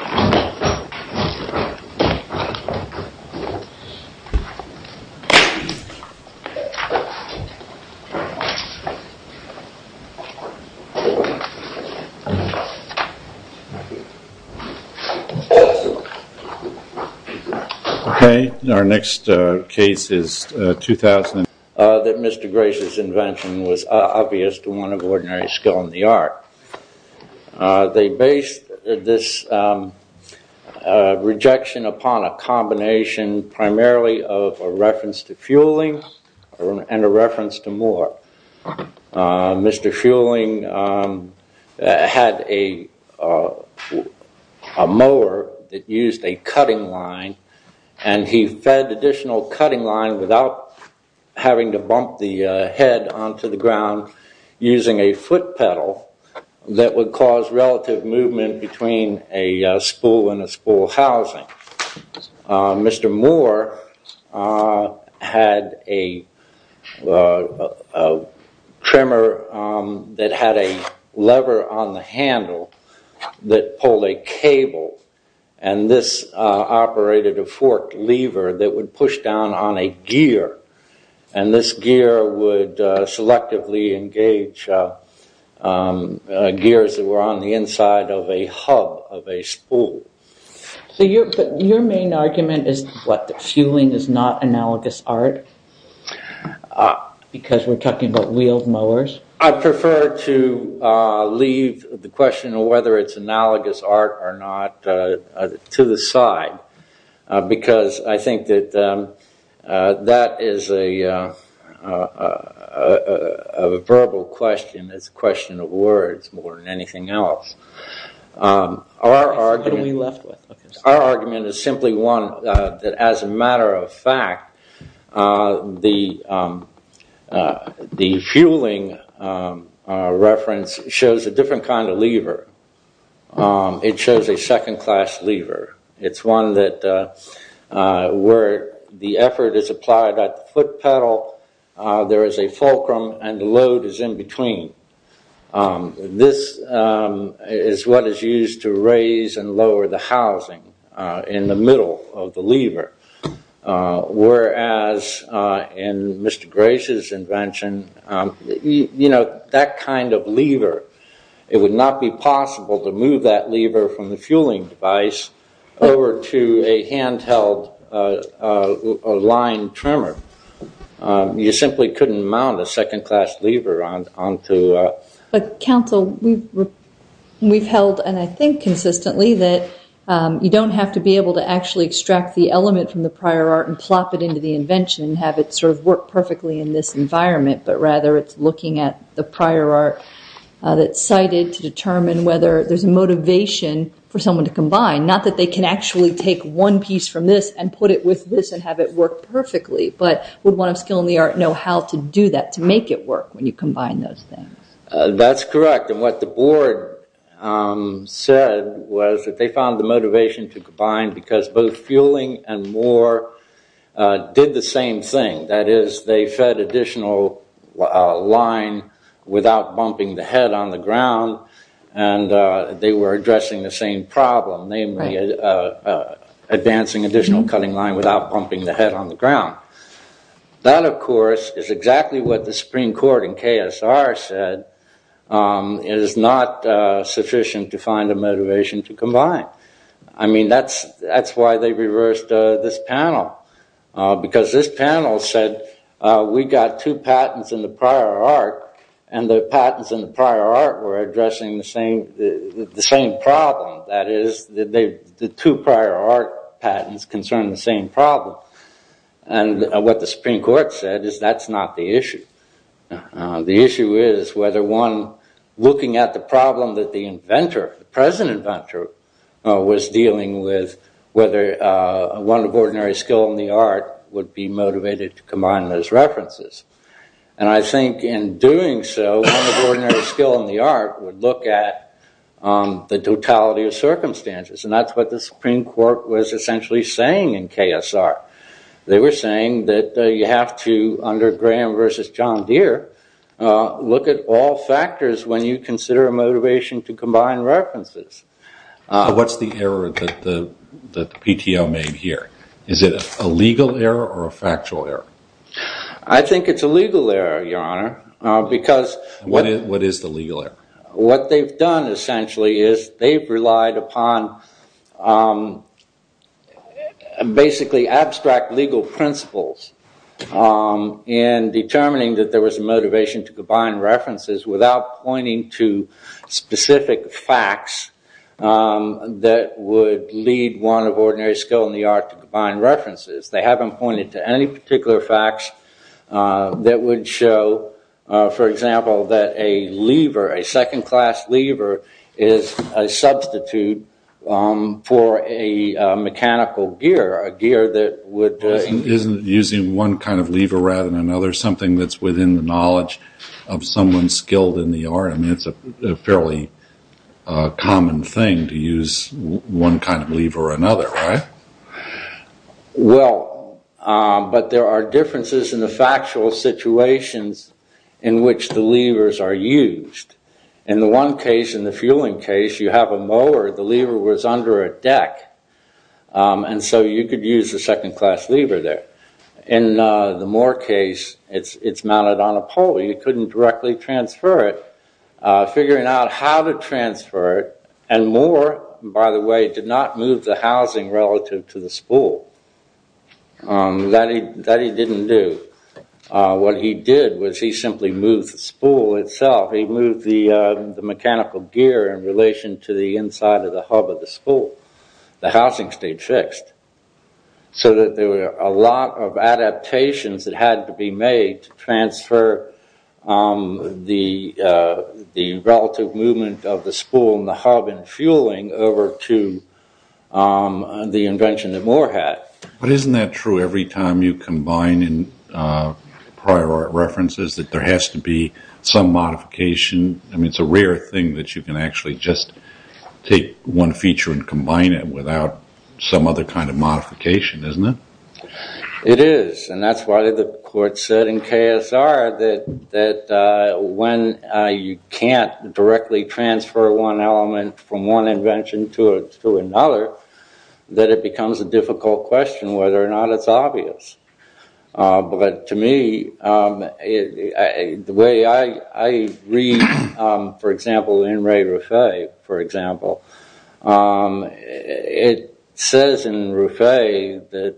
Okay, our next case is 2000. That Mr Grace's invention was obvious to one of ordinary skill in the art. They based this rejection upon a combination primarily of a reference to fueling and a reference to more. Mr Fueling had a mower that used a cutting line and he fed additional cutting line without having to bump the head onto the ground using a foot pedal that would cause relative movement between a spool and a spool housing. Mr Moore had a trimmer that had a lever on the handle that pulled a cable and this operated a forked lever that would push down on a gear and this gear would selectively engage gears that were on the inside of a hub of a spool. So your main argument is that fueling is not analogous art because we're talking about wheeled mowers? I prefer to leave the question of whether it's analogous art or not to the side because I think that that is a verbal question. It's a question of words more than anything else. Our argument is simply one that as a matter of fact, the fueling reference shows a different kind of lever. It shows a second class lever. It's one that where the effort is applied at the foot pedal, there is a fulcrum and the load is in between. This is what is used to raise and lower the housing in the middle of the lever. Whereas in Mr Grace's invention, that kind of lever, it would not be possible to move that lever from the fueling device over to a handheld line trimmer. You simply couldn't mount a second class lever onto a... But counsel, we've held and I think consistently that you don't have to be able to actually extract the element from the prior art and plop it into the invention and have it sort of work perfectly in this environment. But rather it's looking at the prior art that's cited to determine whether there's a motivation for someone to combine. Not that they can actually take one piece from this and put it with this and have it work perfectly. But would one of skill in the art know how to do that to make it work when you combine those things? That's correct. And what the board said was that they found the motivation to combine because both fueling and more did the same thing. That is, they fed additional line without bumping the head on the ground and they were addressing the same problem. Namely, advancing additional cutting line without bumping the head on the ground. That, of course, is exactly what the Supreme Court in KSR said is not sufficient to find a motivation to combine. I mean, that's why they reversed this panel because this panel said we got two patents in the prior art and the patents in the prior art were addressing the same problem. That is, the two prior art patents concern the same problem. And what the Supreme Court said is that's not the issue. The issue is whether one looking at the problem that the inventor, the present inventor, was dealing with whether one of ordinary skill in the art would be motivated to combine those references. And I think in doing so, one of ordinary skill in the art would look at the totality of circumstances. And that's what the Supreme Court was essentially saying in KSR. They were saying that you have to, under Graham versus John Deere, look at all factors when you consider a motivation to combine references. What's the error that the PTO made here? Is it a legal error or a factual error? I think it's a legal error, Your Honor, because... What is the legal error? What they've done essentially is they've relied upon basically abstract legal principles in determining that there was a motivation to combine references without pointing to specific facts that would lead one of ordinary skill in the art to combine references. They haven't pointed to any particular facts that would show, for example, that a lever, a second class lever, is a substitute for a mechanical gear, a gear that would... Isn't using one kind of lever rather than another something that's within the knowledge of someone skilled in the art? I mean, it's a fairly common thing to use one kind of lever or another, right? Well, but there are differences in the factual situations in which the levers are used. In the one case, in the fueling case, you have a mower, the lever was under a deck, and so you could use a second class lever there. In the Moore case, it's mounted on a pole. You couldn't directly transfer it. Figuring out how to transfer it, and Moore, by the way, did not move the housing relative to the spool. That he didn't do. What he did was he simply moved the spool itself. He moved the mechanical gear in relation to the inside of the hub of the spool. The housing stayed fixed. So that there were a lot of adaptations that had to be made to transfer the relative movement of the spool and the hub and fueling over to the invention that Moore had. But isn't that true every time you combine in prior art references that there has to be some modification? I mean, it's a rare thing that you can actually just take one feature and combine it without some other kind of modification, isn't it? It is, and that's why the court said in KSR that when you can't directly transfer one element from one invention to another, that it becomes a difficult question whether or not it's obvious. But to me, the way I read, for example, in Ray Ruffet, for example, it says in Ruffet that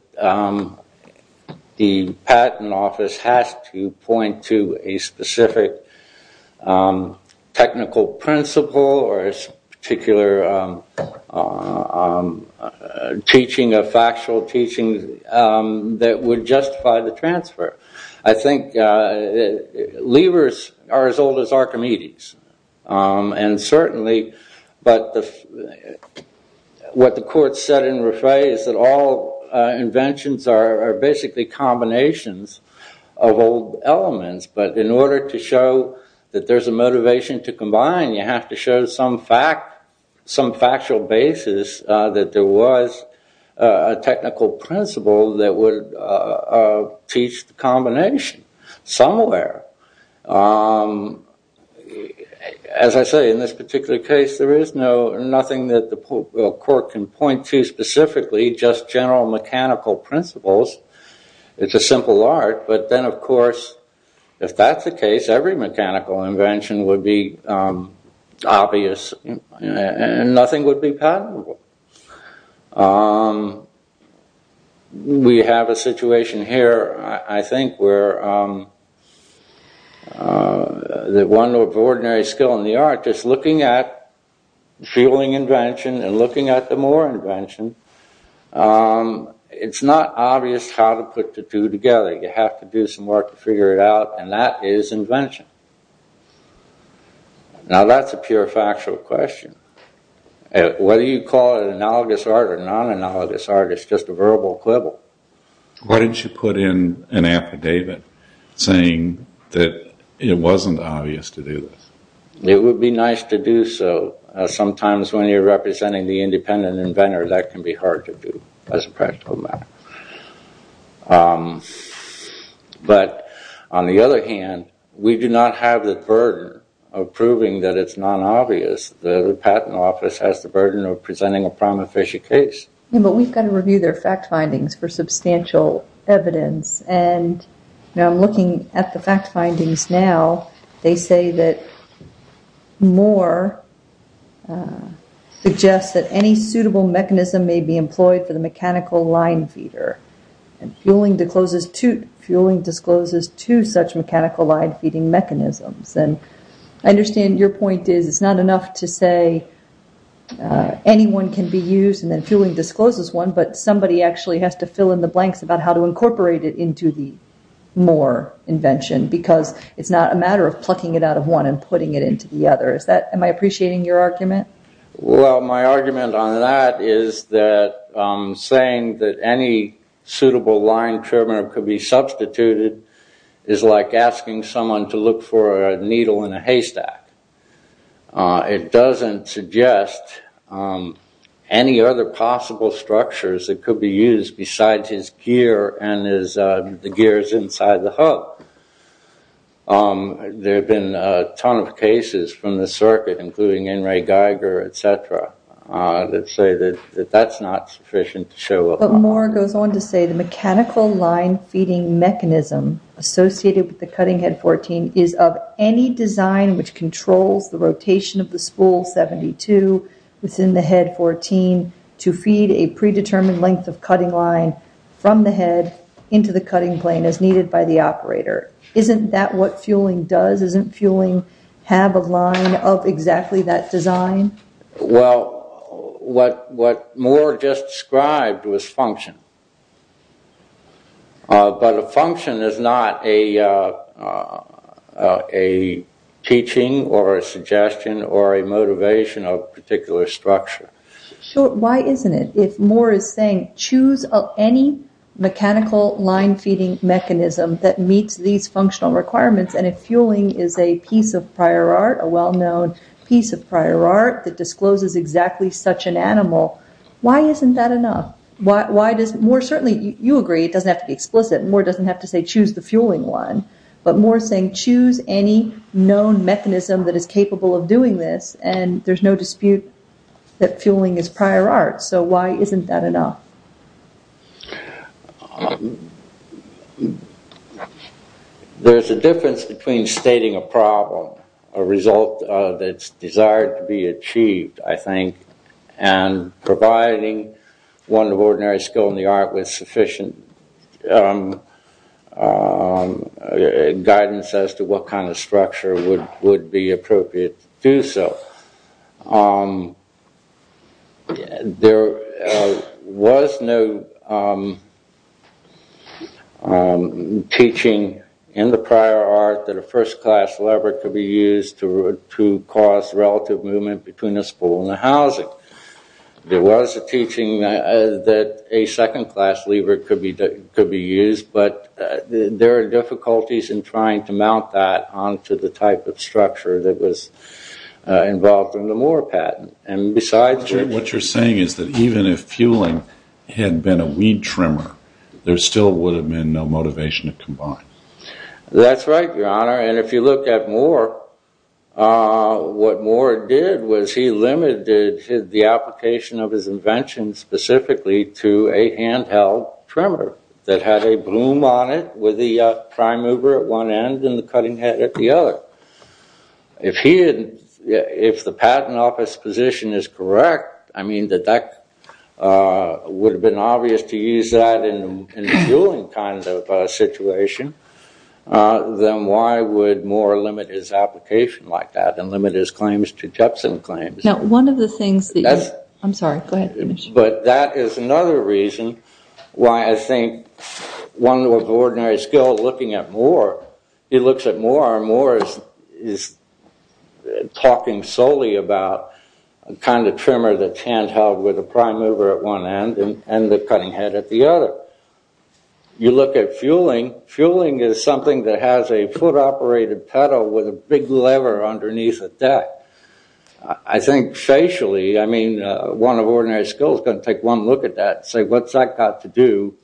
the patent office has to point to a specific technical principle or a particular teaching, a factual teaching, that would justify the transfer. I think levers are as old as Archimedes, and certainly what the court said in Ruffet is that all inventions are basically combinations of old elements. But in order to show that there's a motivation to combine, you have to show some factual basis that there was a technical principle that would teach the combination somewhere. As I say, in this particular case, there is nothing that the court can point to specifically, just general mechanical principles. It's a simple art, but then of course, if that's the case, every mechanical invention would be obvious and nothing would be patentable. We have a situation here, I think, where the one ordinary skill in the art is looking at feeling invention and looking at the more invention. It's not obvious how to put the two together. You have to do some work to figure it out, and that is invention. Now that's a pure factual question. Whether you call it analogous art or non-analogous art, it's just a verbal quibble. Why didn't you put in an affidavit saying that it wasn't obvious to do this? It would be nice to do so. Sometimes when you're representing the independent inventor, that can be hard to do as a practical matter. But on the other hand, we do not have the burden of proving that it's not obvious. The patent office has the burden of presenting a prime official case. We've got to review their fact findings for substantial evidence. I'm looking at the fact findings now. They say that Moore suggests that any suitable mechanism may be employed for the mechanical line feeder. Fueling discloses two such mechanical line feeding mechanisms. I understand your point is it's not enough to say anyone can be used and then fueling discloses one, but somebody actually has to fill in the blanks about how to incorporate it into the Moore invention, because it's not a matter of plucking it out of one and putting it into the other. Am I appreciating your argument? Well, my argument on that is that saying that any suitable line trimmer could be substituted is like asking someone to look for a needle in a haystack. It doesn't suggest any other possible structures that could be used besides his gear and the gears inside the hub. There have been a ton of cases from the circuit, including Enri Geiger, etc. that say that that's not sufficient to show. But Moore goes on to say the mechanical line feeding mechanism associated with the cutting head 14 is of any design which controls the rotation of the spool 72 within the head 14 to feed a predetermined length of cutting line from the head into the cutting plane as needed by the operator. Isn't that what fueling does? Isn't fueling have a line of exactly that design? Well, what Moore just described was function. But a function is not a teaching or a suggestion or a motivation of a particular structure. So why isn't it? If Moore is saying choose any mechanical line feeding mechanism that meets these functional requirements and if fueling is a piece of prior art, a well-known piece of prior art that discloses exactly such an animal, why isn't that enough? You agree, it doesn't have to be explicit. Moore doesn't have to say choose the fueling one. But Moore is saying choose any known mechanism that is capable of doing this and there's no dispute that fueling is prior art. So why isn't that enough? There's a difference between stating a problem, a result that's desired to be achieved, I think, and providing one of ordinary skill in the art with sufficient guidance as to what kind of structure would be appropriate to do so. There was no teaching in the prior art that a first-class lever could be used to cause relative movement between a spool and a housing. There was a teaching that a second-class lever could be used but there are difficulties in trying to mount that onto the type of structure that was involved in the Moore patent. What you're saying is that even if fueling had been a weed trimmer, there still would have been no motivation to combine. That's right, Your Honor, and if you look at Moore, what Moore did was he limited the application of his invention specifically to a handheld trimmer that had a broom on it with the prime mover at one end and the cutting head at the other. If the patent office position is correct, I mean, that that would have been obvious to use that in the fueling kind of situation, then why would Moore limit his application like that and limit his claims to Jetson claims? No, one of the things that... I'm sorry, go ahead. But that is another reason why I think one of ordinary skill looking at Moore, he looks at Moore and Moore is talking solely about the kind of trimmer that's handheld with a prime mover at one end and the cutting head at the other. You look at fueling, fueling is something that has a foot-operated pedal with a big lever underneath the deck. I think facially, I mean, one of ordinary skill is going to take one look at that and say, what's that got to do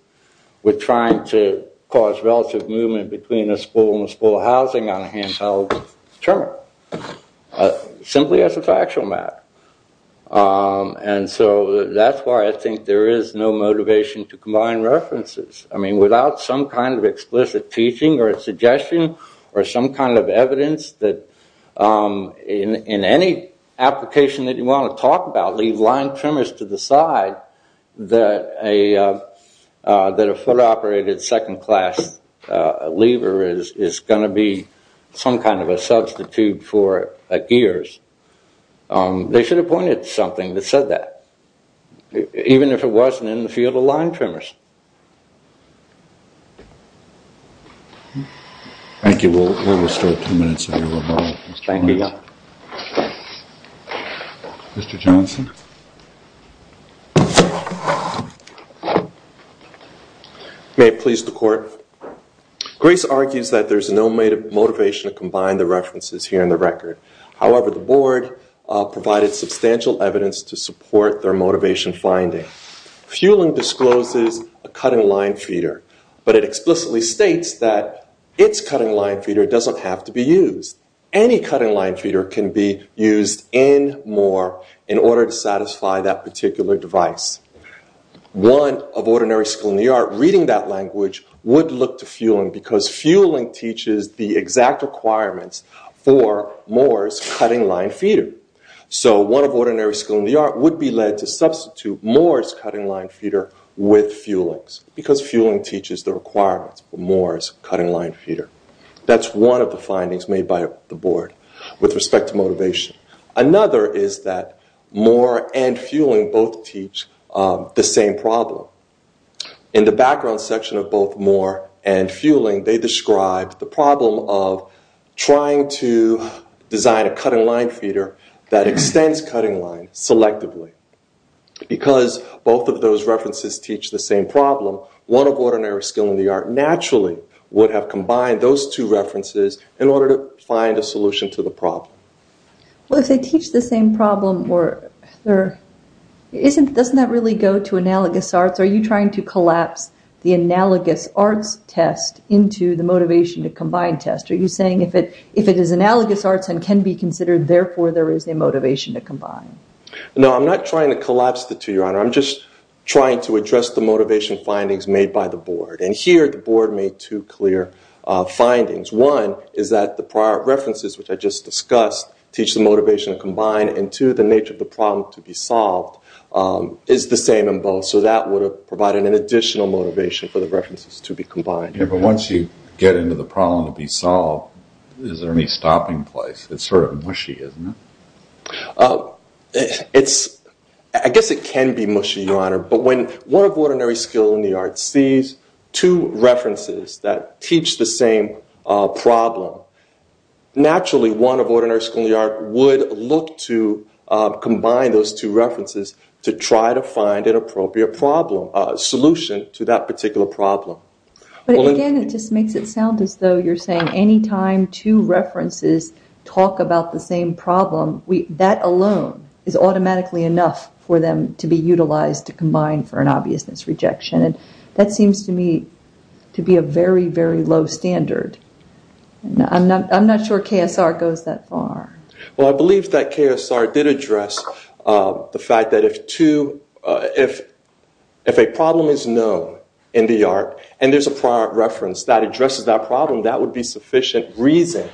with trying to cause relative movement between a spool and a spool housing on a handheld trimmer? Simply as a factual matter. And so, that's why I think there is no motivation to combine references. I mean, without some kind of explicit teaching or suggestion or some kind of evidence that in any application that you want to talk about, leave line trimmers to the side that a foot-operated second-class lever is going to be some kind of a substitute for gears, they should have pointed to something that said that. Even if it wasn't in the field of line trimmers. Thank you. We'll start two minutes later. Mr. Johnson. May it please the court. Grace argues that there's no motivation to combine the references here in the record. However, the board provided substantial evidence to support their motivation finding. Fueling discloses a cutting line feeder, but it explicitly states that its cutting line feeder doesn't have to be used. Any cutting line feeder can be used in MORE in order to satisfy that particular device. One of ordinary school in the art reading that language would look to fueling because fueling teaches the exact requirements for MORE's cutting line feeder. So, one of ordinary school in the art would be led to substitute MORE's cutting line feeder with fueling's because fueling teaches the requirements for MORE's cutting line feeder. That's one of the findings made by the board with respect to motivation. Another is that fueling both teach the same problem. In the background section of both MORE and fueling, they described the problem of trying to design a cutting line feeder that extends cutting line selectively. Because both of those references teach the same problem, one of ordinary skill in the art naturally would have combined those two references in order to find a solution to the Isn't, doesn't that really go to analogous arts? Are you trying to collapse the analogous arts test into the motivation to combine test? Are you saying if it, if it is analogous arts and can be considered, therefore there is a motivation to combine? No, I'm not trying to collapse the two, Your Honor. I'm just trying to address the motivation findings made by the board. And here the board made two clear findings. One is that the prior references, which I just discussed, teach the motivation to combine. And two, the nature of the problem to be solved is the same in both. So that would have provided an additional motivation for the references to be combined. Yeah, but once you get into the problem to be solved, is there any stopping place? It's sort of mushy, isn't it? It's, I guess it can be mushy, Your Honor. But when one of ordinary skill in the arts sees two references that teach the same problem, naturally one of ordinary skill in the art would look to combine those two references to try to find an appropriate problem, solution to that particular problem. But again, it just makes it sound as though you're saying anytime two references talk about the same problem, we, that alone is automatically enough for them to be utilized to combine for an obviousness I'm not sure KSR goes that far. Well, I believe that KSR did address the fact that if two, if a problem is known in the art and there's a prior reference that addresses that problem, that would be sufficient reason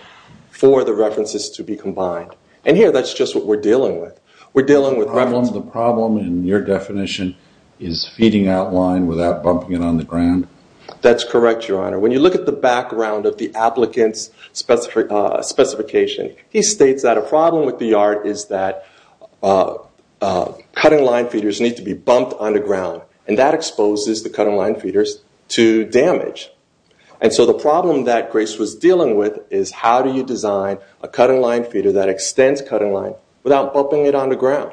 for the references to be combined. And here that's just what we're dealing with. We're dealing with the problem and your definition is feeding outline without bumping it on the ground. That's correct, Your Honor. When you look at the specification, he states that a problem with the art is that cutting line feeders need to be bumped on the ground and that exposes the cutting line feeders to damage. And so the problem that Grace was dealing with is how do you design a cutting line feeder that extends cutting line without bumping it on the ground?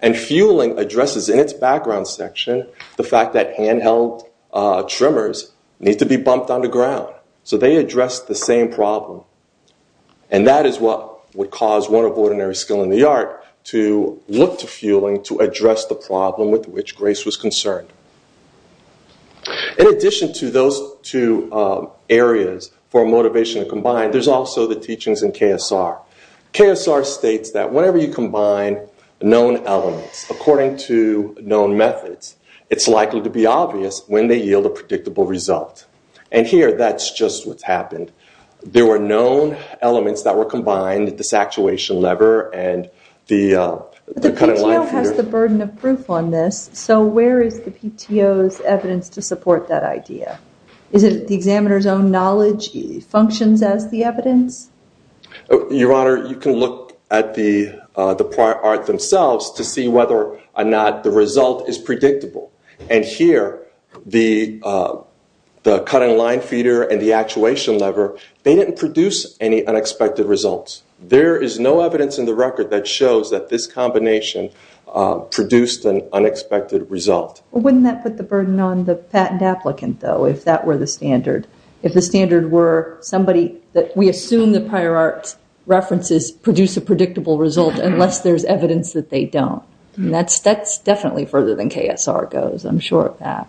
And fueling addresses in its background section, the fact that handheld trimmers need to be bumped on the ground. So they address the same problem. And that is what would cause one of ordinary skill in the art to look to fueling to address the problem with which Grace was concerned. In addition to those two areas for motivation to combine, there's also the teachings in KSR. KSR states that whenever you combine known elements according to known methods, it's likely to be obvious when they happened. There were known elements that were combined, this actuation lever, and the cutting line feeder. The PTO has the burden of proof on this. So where is the PTO's evidence to support that idea? Is it the examiner's own knowledge functions as the evidence? Your Honor, you can look at the prior art themselves to see whether or not the result is predictable. And here, the cutting line feeder and the actuation lever, they didn't produce any unexpected results. There is no evidence in the record that shows that this combination produced an unexpected result. Wouldn't that put the burden on the patent applicant, though, if that were the standard? If the standard were somebody that we assume the prior art references produce a predictable result unless there's evidence that they don't. That's definitely further than KSR goes, I'm sure of that.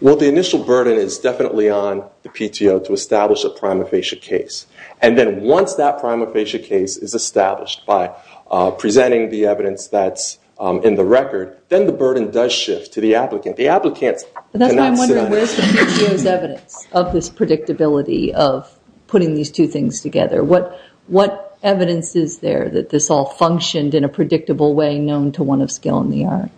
Well, the initial burden is definitely on the PTO to establish a prima facie case. And then once that prima facie case is established by presenting the evidence that's in the record, then the burden does shift to the applicant. The applicant cannot sit on it. But that's why I'm wondering where's the PTO's evidence of this predictability of putting these two things together? What evidence is there that this all functioned in a predictable way known to one of skill in the art?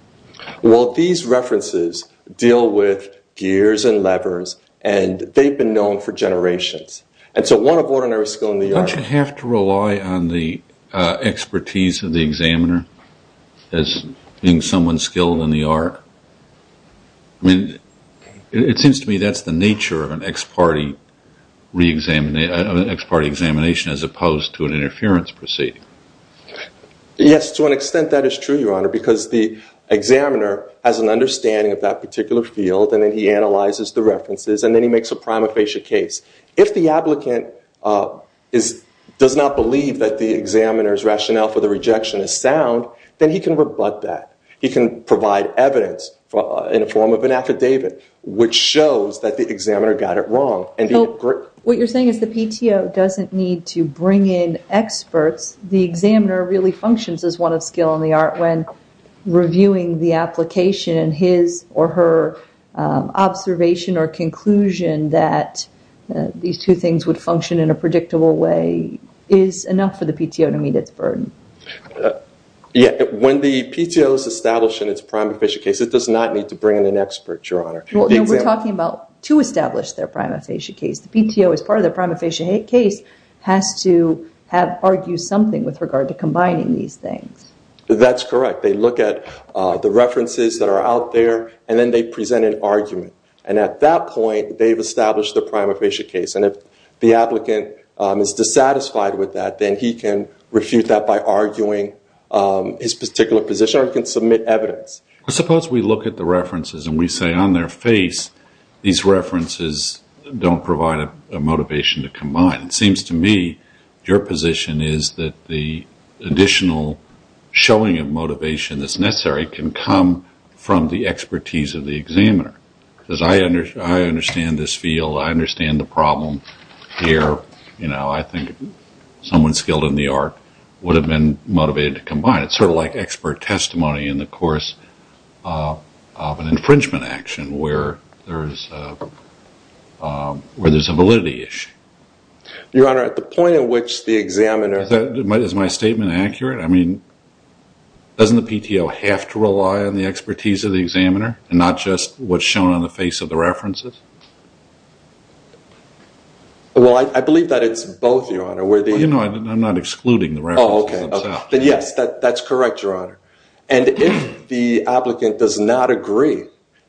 Well, these references deal with gears and levers, and they've been known for generations. And so one of ordinary skill in the art... Don't you have to rely on the expertise of the examiner as being someone skilled in the art? I mean, it seems to me that's the nature of an ex parte examination as opposed to an exam. To an extent, that is true, Your Honor, because the examiner has an understanding of that particular field, and then he analyzes the references, and then he makes a prima facie case. If the applicant does not believe that the examiner's rationale for the rejection is sound, then he can rebut that. He can provide evidence in the form of an affidavit, which shows that the examiner got it wrong. What you're saying is the PTO doesn't need to when reviewing the application and his or her observation or conclusion that these two things would function in a predictable way is enough for the PTO to meet its burden? Yeah. When the PTO is established in its prima facie case, it does not need to bring in an expert, Your Honor. We're talking about to establish their prima facie case. The PTO, as part of their prima facie case, has to have argued something with regard to combining these things. That's correct. They look at the references that are out there, and then they present an argument. At that point, they've established the prima facie case. If the applicant is dissatisfied with that, then he can refute that by arguing his particular position, or he can submit evidence. Suppose we look at the references and we say on their face these references don't provide a showing of motivation that's necessary can come from the expertise of the examiner, because I understand this field. I understand the problem here. I think someone skilled in the art would have been motivated to combine. It's like expert testimony in the course of an infringement action where there's a validity issue. Your Honor, at the point at which the examiner... Is my statement accurate? I mean, doesn't the PTO have to rely on the expertise of the examiner and not just what's shown on the face of the references? Well, I believe that it's both, Your Honor. I'm not excluding the references themselves. Yes, that's correct, Your Honor. If the applicant does not agree,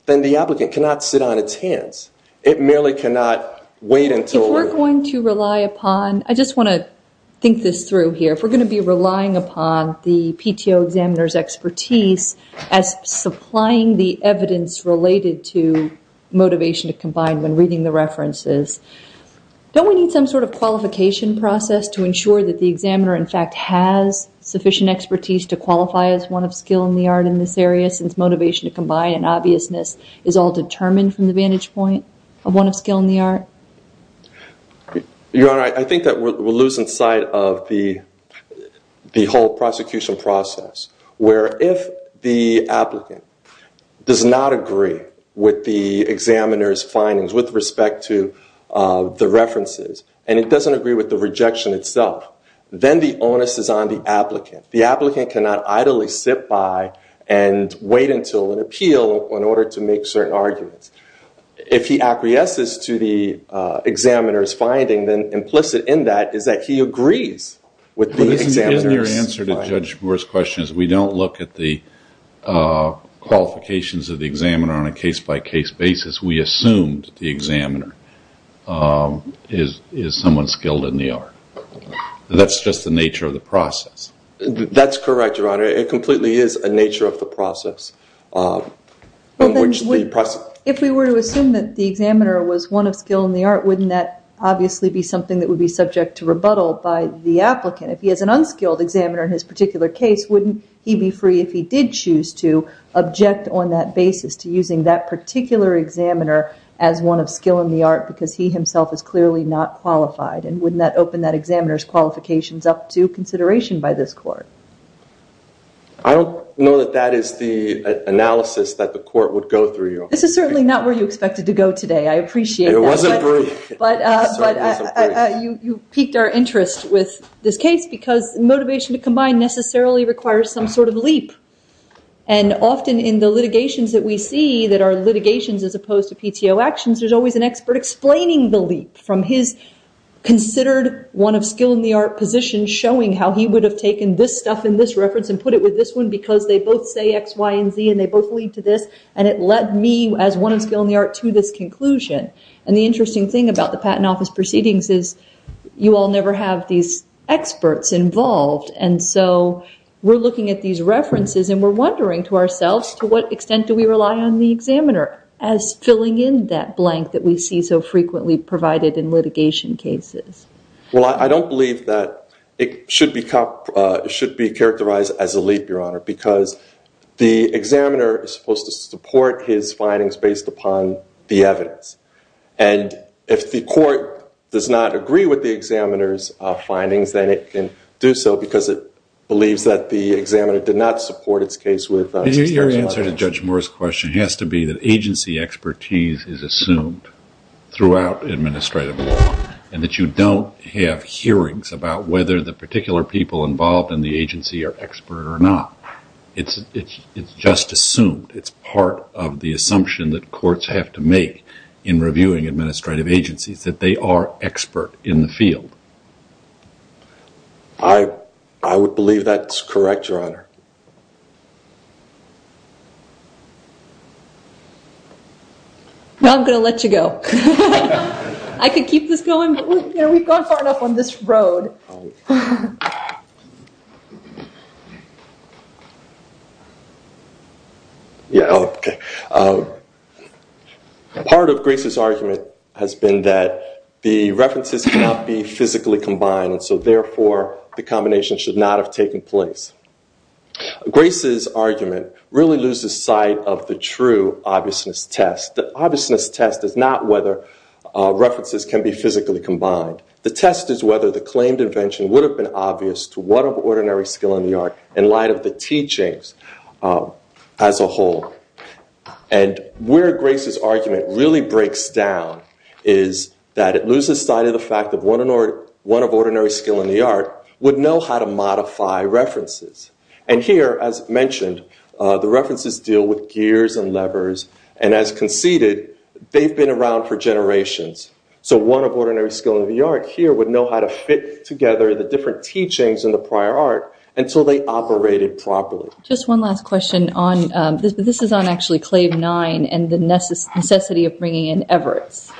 then the applicant cannot sit on its hands. It merely cannot wait until... If we're going to rely upon... I just want to think this through here. If we're going to be relying upon the PTO examiner's expertise as supplying the evidence related to motivation to combine when reading the references, don't we need some sort of qualification process to ensure that the examiner, in fact, has sufficient expertise to qualify as one of skill in the art in this area since motivation to combine and obviousness is all determined from the vantage point of one of skill in the art? Your Honor, I think that we're losing sight of the whole prosecution process where if the applicant does not agree with the examiner's findings with respect to the references and it doesn't agree with the rejection itself, then the onus is on the applicant. The applicant cannot idly sit by and wait until an appeal in order to make certain arguments. If he acquiesces to the examiner's finding, then implicit in that is that he agrees with the examiner's finding. But isn't your answer to Judge Brewer's question is we don't look at the qualifications of the examiner on a case-by-case basis. We assumed the examiner is someone skilled in the art. That's just the nature of the process. That's correct, Your Honor. It completely is a nature of the process. If we were to assume that the examiner was one of skill in the art, wouldn't that obviously be something that would be subject to rebuttal by the applicant? If he is an unskilled examiner in his particular case, wouldn't he be free if he did choose to object on that basis to using that particular examiner as one of skill in the art because he himself is clearly not qualified? And wouldn't that open that examiner's qualifications up to consideration by this court? I don't know that that is the analysis that the court would go through, Your Honor. This is certainly not where you expected to go today. I appreciate that. It wasn't brief. But you piqued our interest with this case because motivation to combine necessarily requires some sort of leap. And often in the litigations that we see that are litigations as opposed to PTO actions, there's always an expert explaining the leap from his considered one of skill in the art position showing how he would have taken this stuff in this reference and put it with this one because they both say X, Y, and Z, and they both lead to this. And it led me as one of skill in the art to this conclusion. And the interesting thing about the Patent Office Proceedings is you all never have these experts involved. And so we're looking at these references and we're wondering to ourselves, to what extent do we rely on the examiner as filling in that blank that we see so frequently provided in litigation cases? Well, I don't believe that it should be characterized as a leap, Your Honor, because the examiner is supposed to support his findings based upon the evidence. And if the court does not agree with the examiner's findings, then it can do so because it believes that the examiner did not support its case with substantial evidence. Your answer to Judge Moore's question has to be that agency expertise is assumed throughout administrative law and that you don't have hearings about whether the particular people involved in the agency are expert or not. It's just assumed. It's part of the assumption that courts have to make in reviewing administrative agencies that they are expert in the field. I would believe that's correct, Your Honor. Well, I'm going to let you go. I could keep this going. We've gone far enough on this road. Yeah, OK. Part of Grace's argument has been that the references cannot be physically combined, and so therefore, the combination should not have taken place. Grace's argument really loses sight of the true obviousness test. The obviousness test is not whether references can be physically combined. The test is whether the claimed invention would have been obvious to what of ordinary skill in the art in light of the teachings as a whole. And where Grace's argument really breaks down is that it loses sight of the fact of what of ordinary skill in the art would know how to modify references. And here, as mentioned, the references deal with gears and levers, and as conceded, they've been around for generations. So what of ordinary skill in the art here would know how to fit together the different teachings in the prior art until they operated properly. Just one last question. This is on actually and the necessity of bringing in Everett's.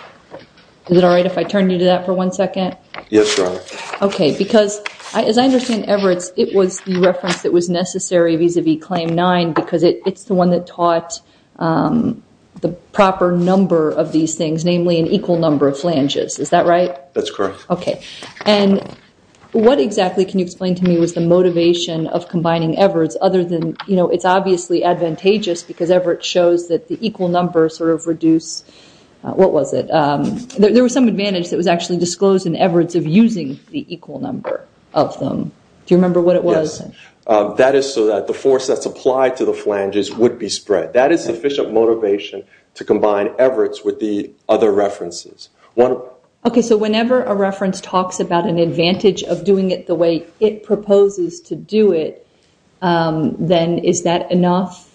Is it all right if I turn you to that for one second? Yes, Your Honor. OK, because as I understand Everett's, it was the reference that was necessary vis-a-vis Claim 9 because it's the one that taught the proper number of these things, namely an equal number of flanges. Is that right? That's correct. OK. And what exactly can you explain to me was the motivation of combining Everett's other than, it's obviously advantageous because Everett shows that the equal number sort of reduce, what was it? There was some advantage that was actually disclosed in Everett's of using the equal number of them. Do you remember what it was? Yes. That is so that the force that's applied to the flanges would be spread. That is sufficient motivation to combine Everett's with the other references. OK, so whenever a reference talks about an advantage of doing it the way it proposes to do it, then is that enough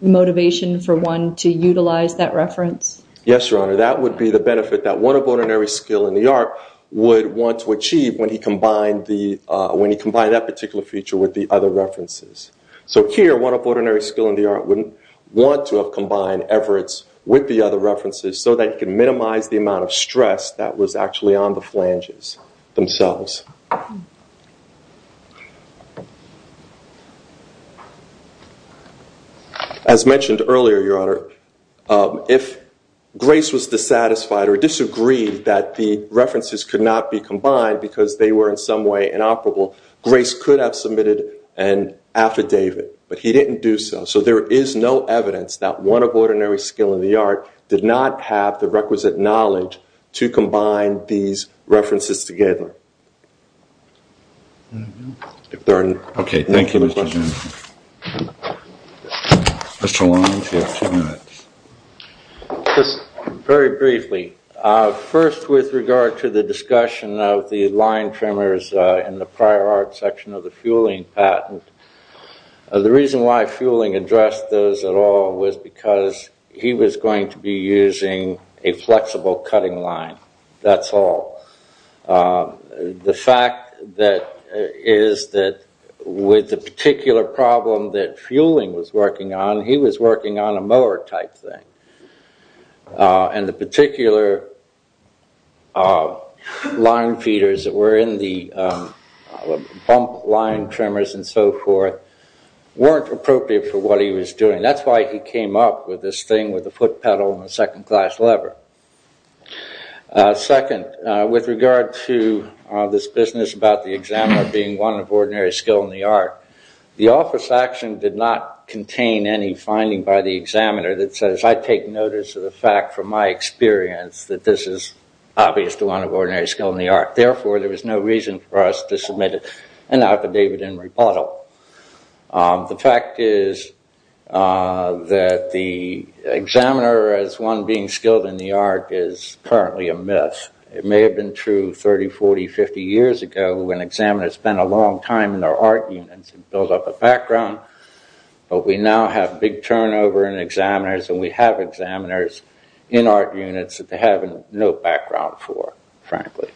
motivation for one to utilize that reference? Yes, Your Honor. That would be the benefit that one of ordinary skill in the art would want to achieve when he combined that particular feature with the other references. So here, one of ordinary skill in the art wouldn't want to have combined Everett's with the other references so that you can minimize the amount of stress that was actually on the flanges themselves. As mentioned earlier, Your Honor, if Grace was dissatisfied or disagreed that the references could not be combined because they were in some way inoperable, Grace could have submitted an affidavit, but he didn't do so. So there is no evidence that one of ordinary skill in the art did not have the requisite knowledge to combine these references together. Just very briefly, first with regard to the discussion of the line trimmers in the prior art section of the fueling patent, the reason why fueling addressed those at all was because he was going to be using a flexible cutting line. That's all. The fact that is that with the particular problem that fueling was working on, he was working on a mower type thing. And the particular line feeders that were in the pump line trimmers and so forth weren't appropriate for what he was doing. That's why he came up with this thing with a foot pedal and a second class lever. Second, with regard to this business about the examiner being one of ordinary skill in the art, the office action did not contain any finding by the examiner that says I take notice of the fact from my experience that this is obvious to one of ordinary skill in the art. Therefore, there was no reason for us to submit an affidavit in rebuttal. The fact is that the examiner as one being skilled in the art is currently a myth. It may have been true 30, 40, 50 years ago when examiners spent a long time in their art units and built up a background, but we now have big turnover in examiners and we have examiners in art units that they have no background for, frankly.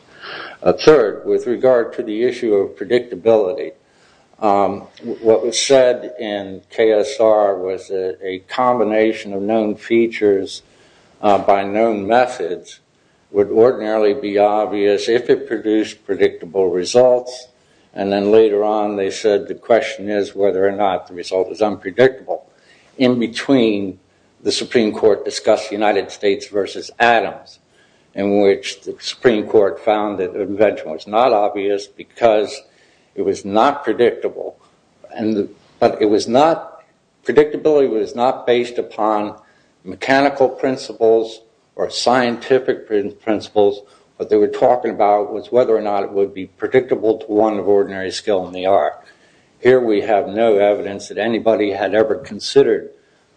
Third, with regard to the issue of what was said in KSR was a combination of known features by known methods would ordinarily be obvious if it produced predictable results and then later on they said the question is whether or not the result is unpredictable. In between, the Supreme Court discussed the United States versus Adams in which the Supreme Court found that the invention was not obvious because it was not predictable, but it was not, predictability was not based upon mechanical principles or scientific principles. What they were talking about was whether or not it would be predictable to one of ordinary skill in the art. Here we have no evidence that anybody had ever considered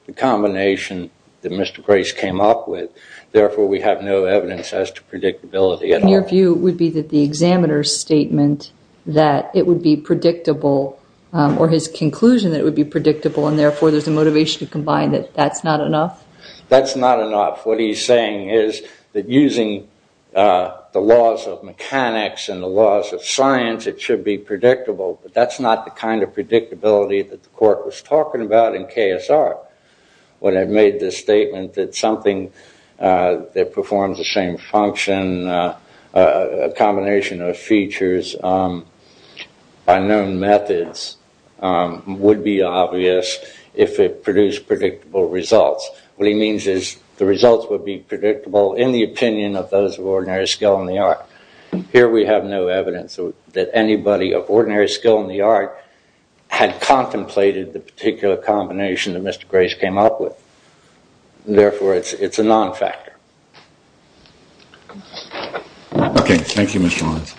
the combination that Mr. Grace came up with. Therefore, we have no evidence as to predictability at all. Your view would be that the examiner's statement that it would be predictable or his conclusion that it would be predictable and therefore there's a motivation to combine that that's not enough? That's not enough. What he's saying is that using the laws of mechanics and the laws of science, it should be predictable, but that's not the kind of predictability that the court was talking about in KSR. When I made this statement that something that performs the same function, a combination of features by known methods would be obvious if it produced predictable results. What he means is the results would be predictable in the opinion of those of ordinary skill in the art. Here we have no evidence that anybody of ordinary skill in the art had contemplated the particular combination that it's a non-factor. Okay, thank you, Mr. Lawrence.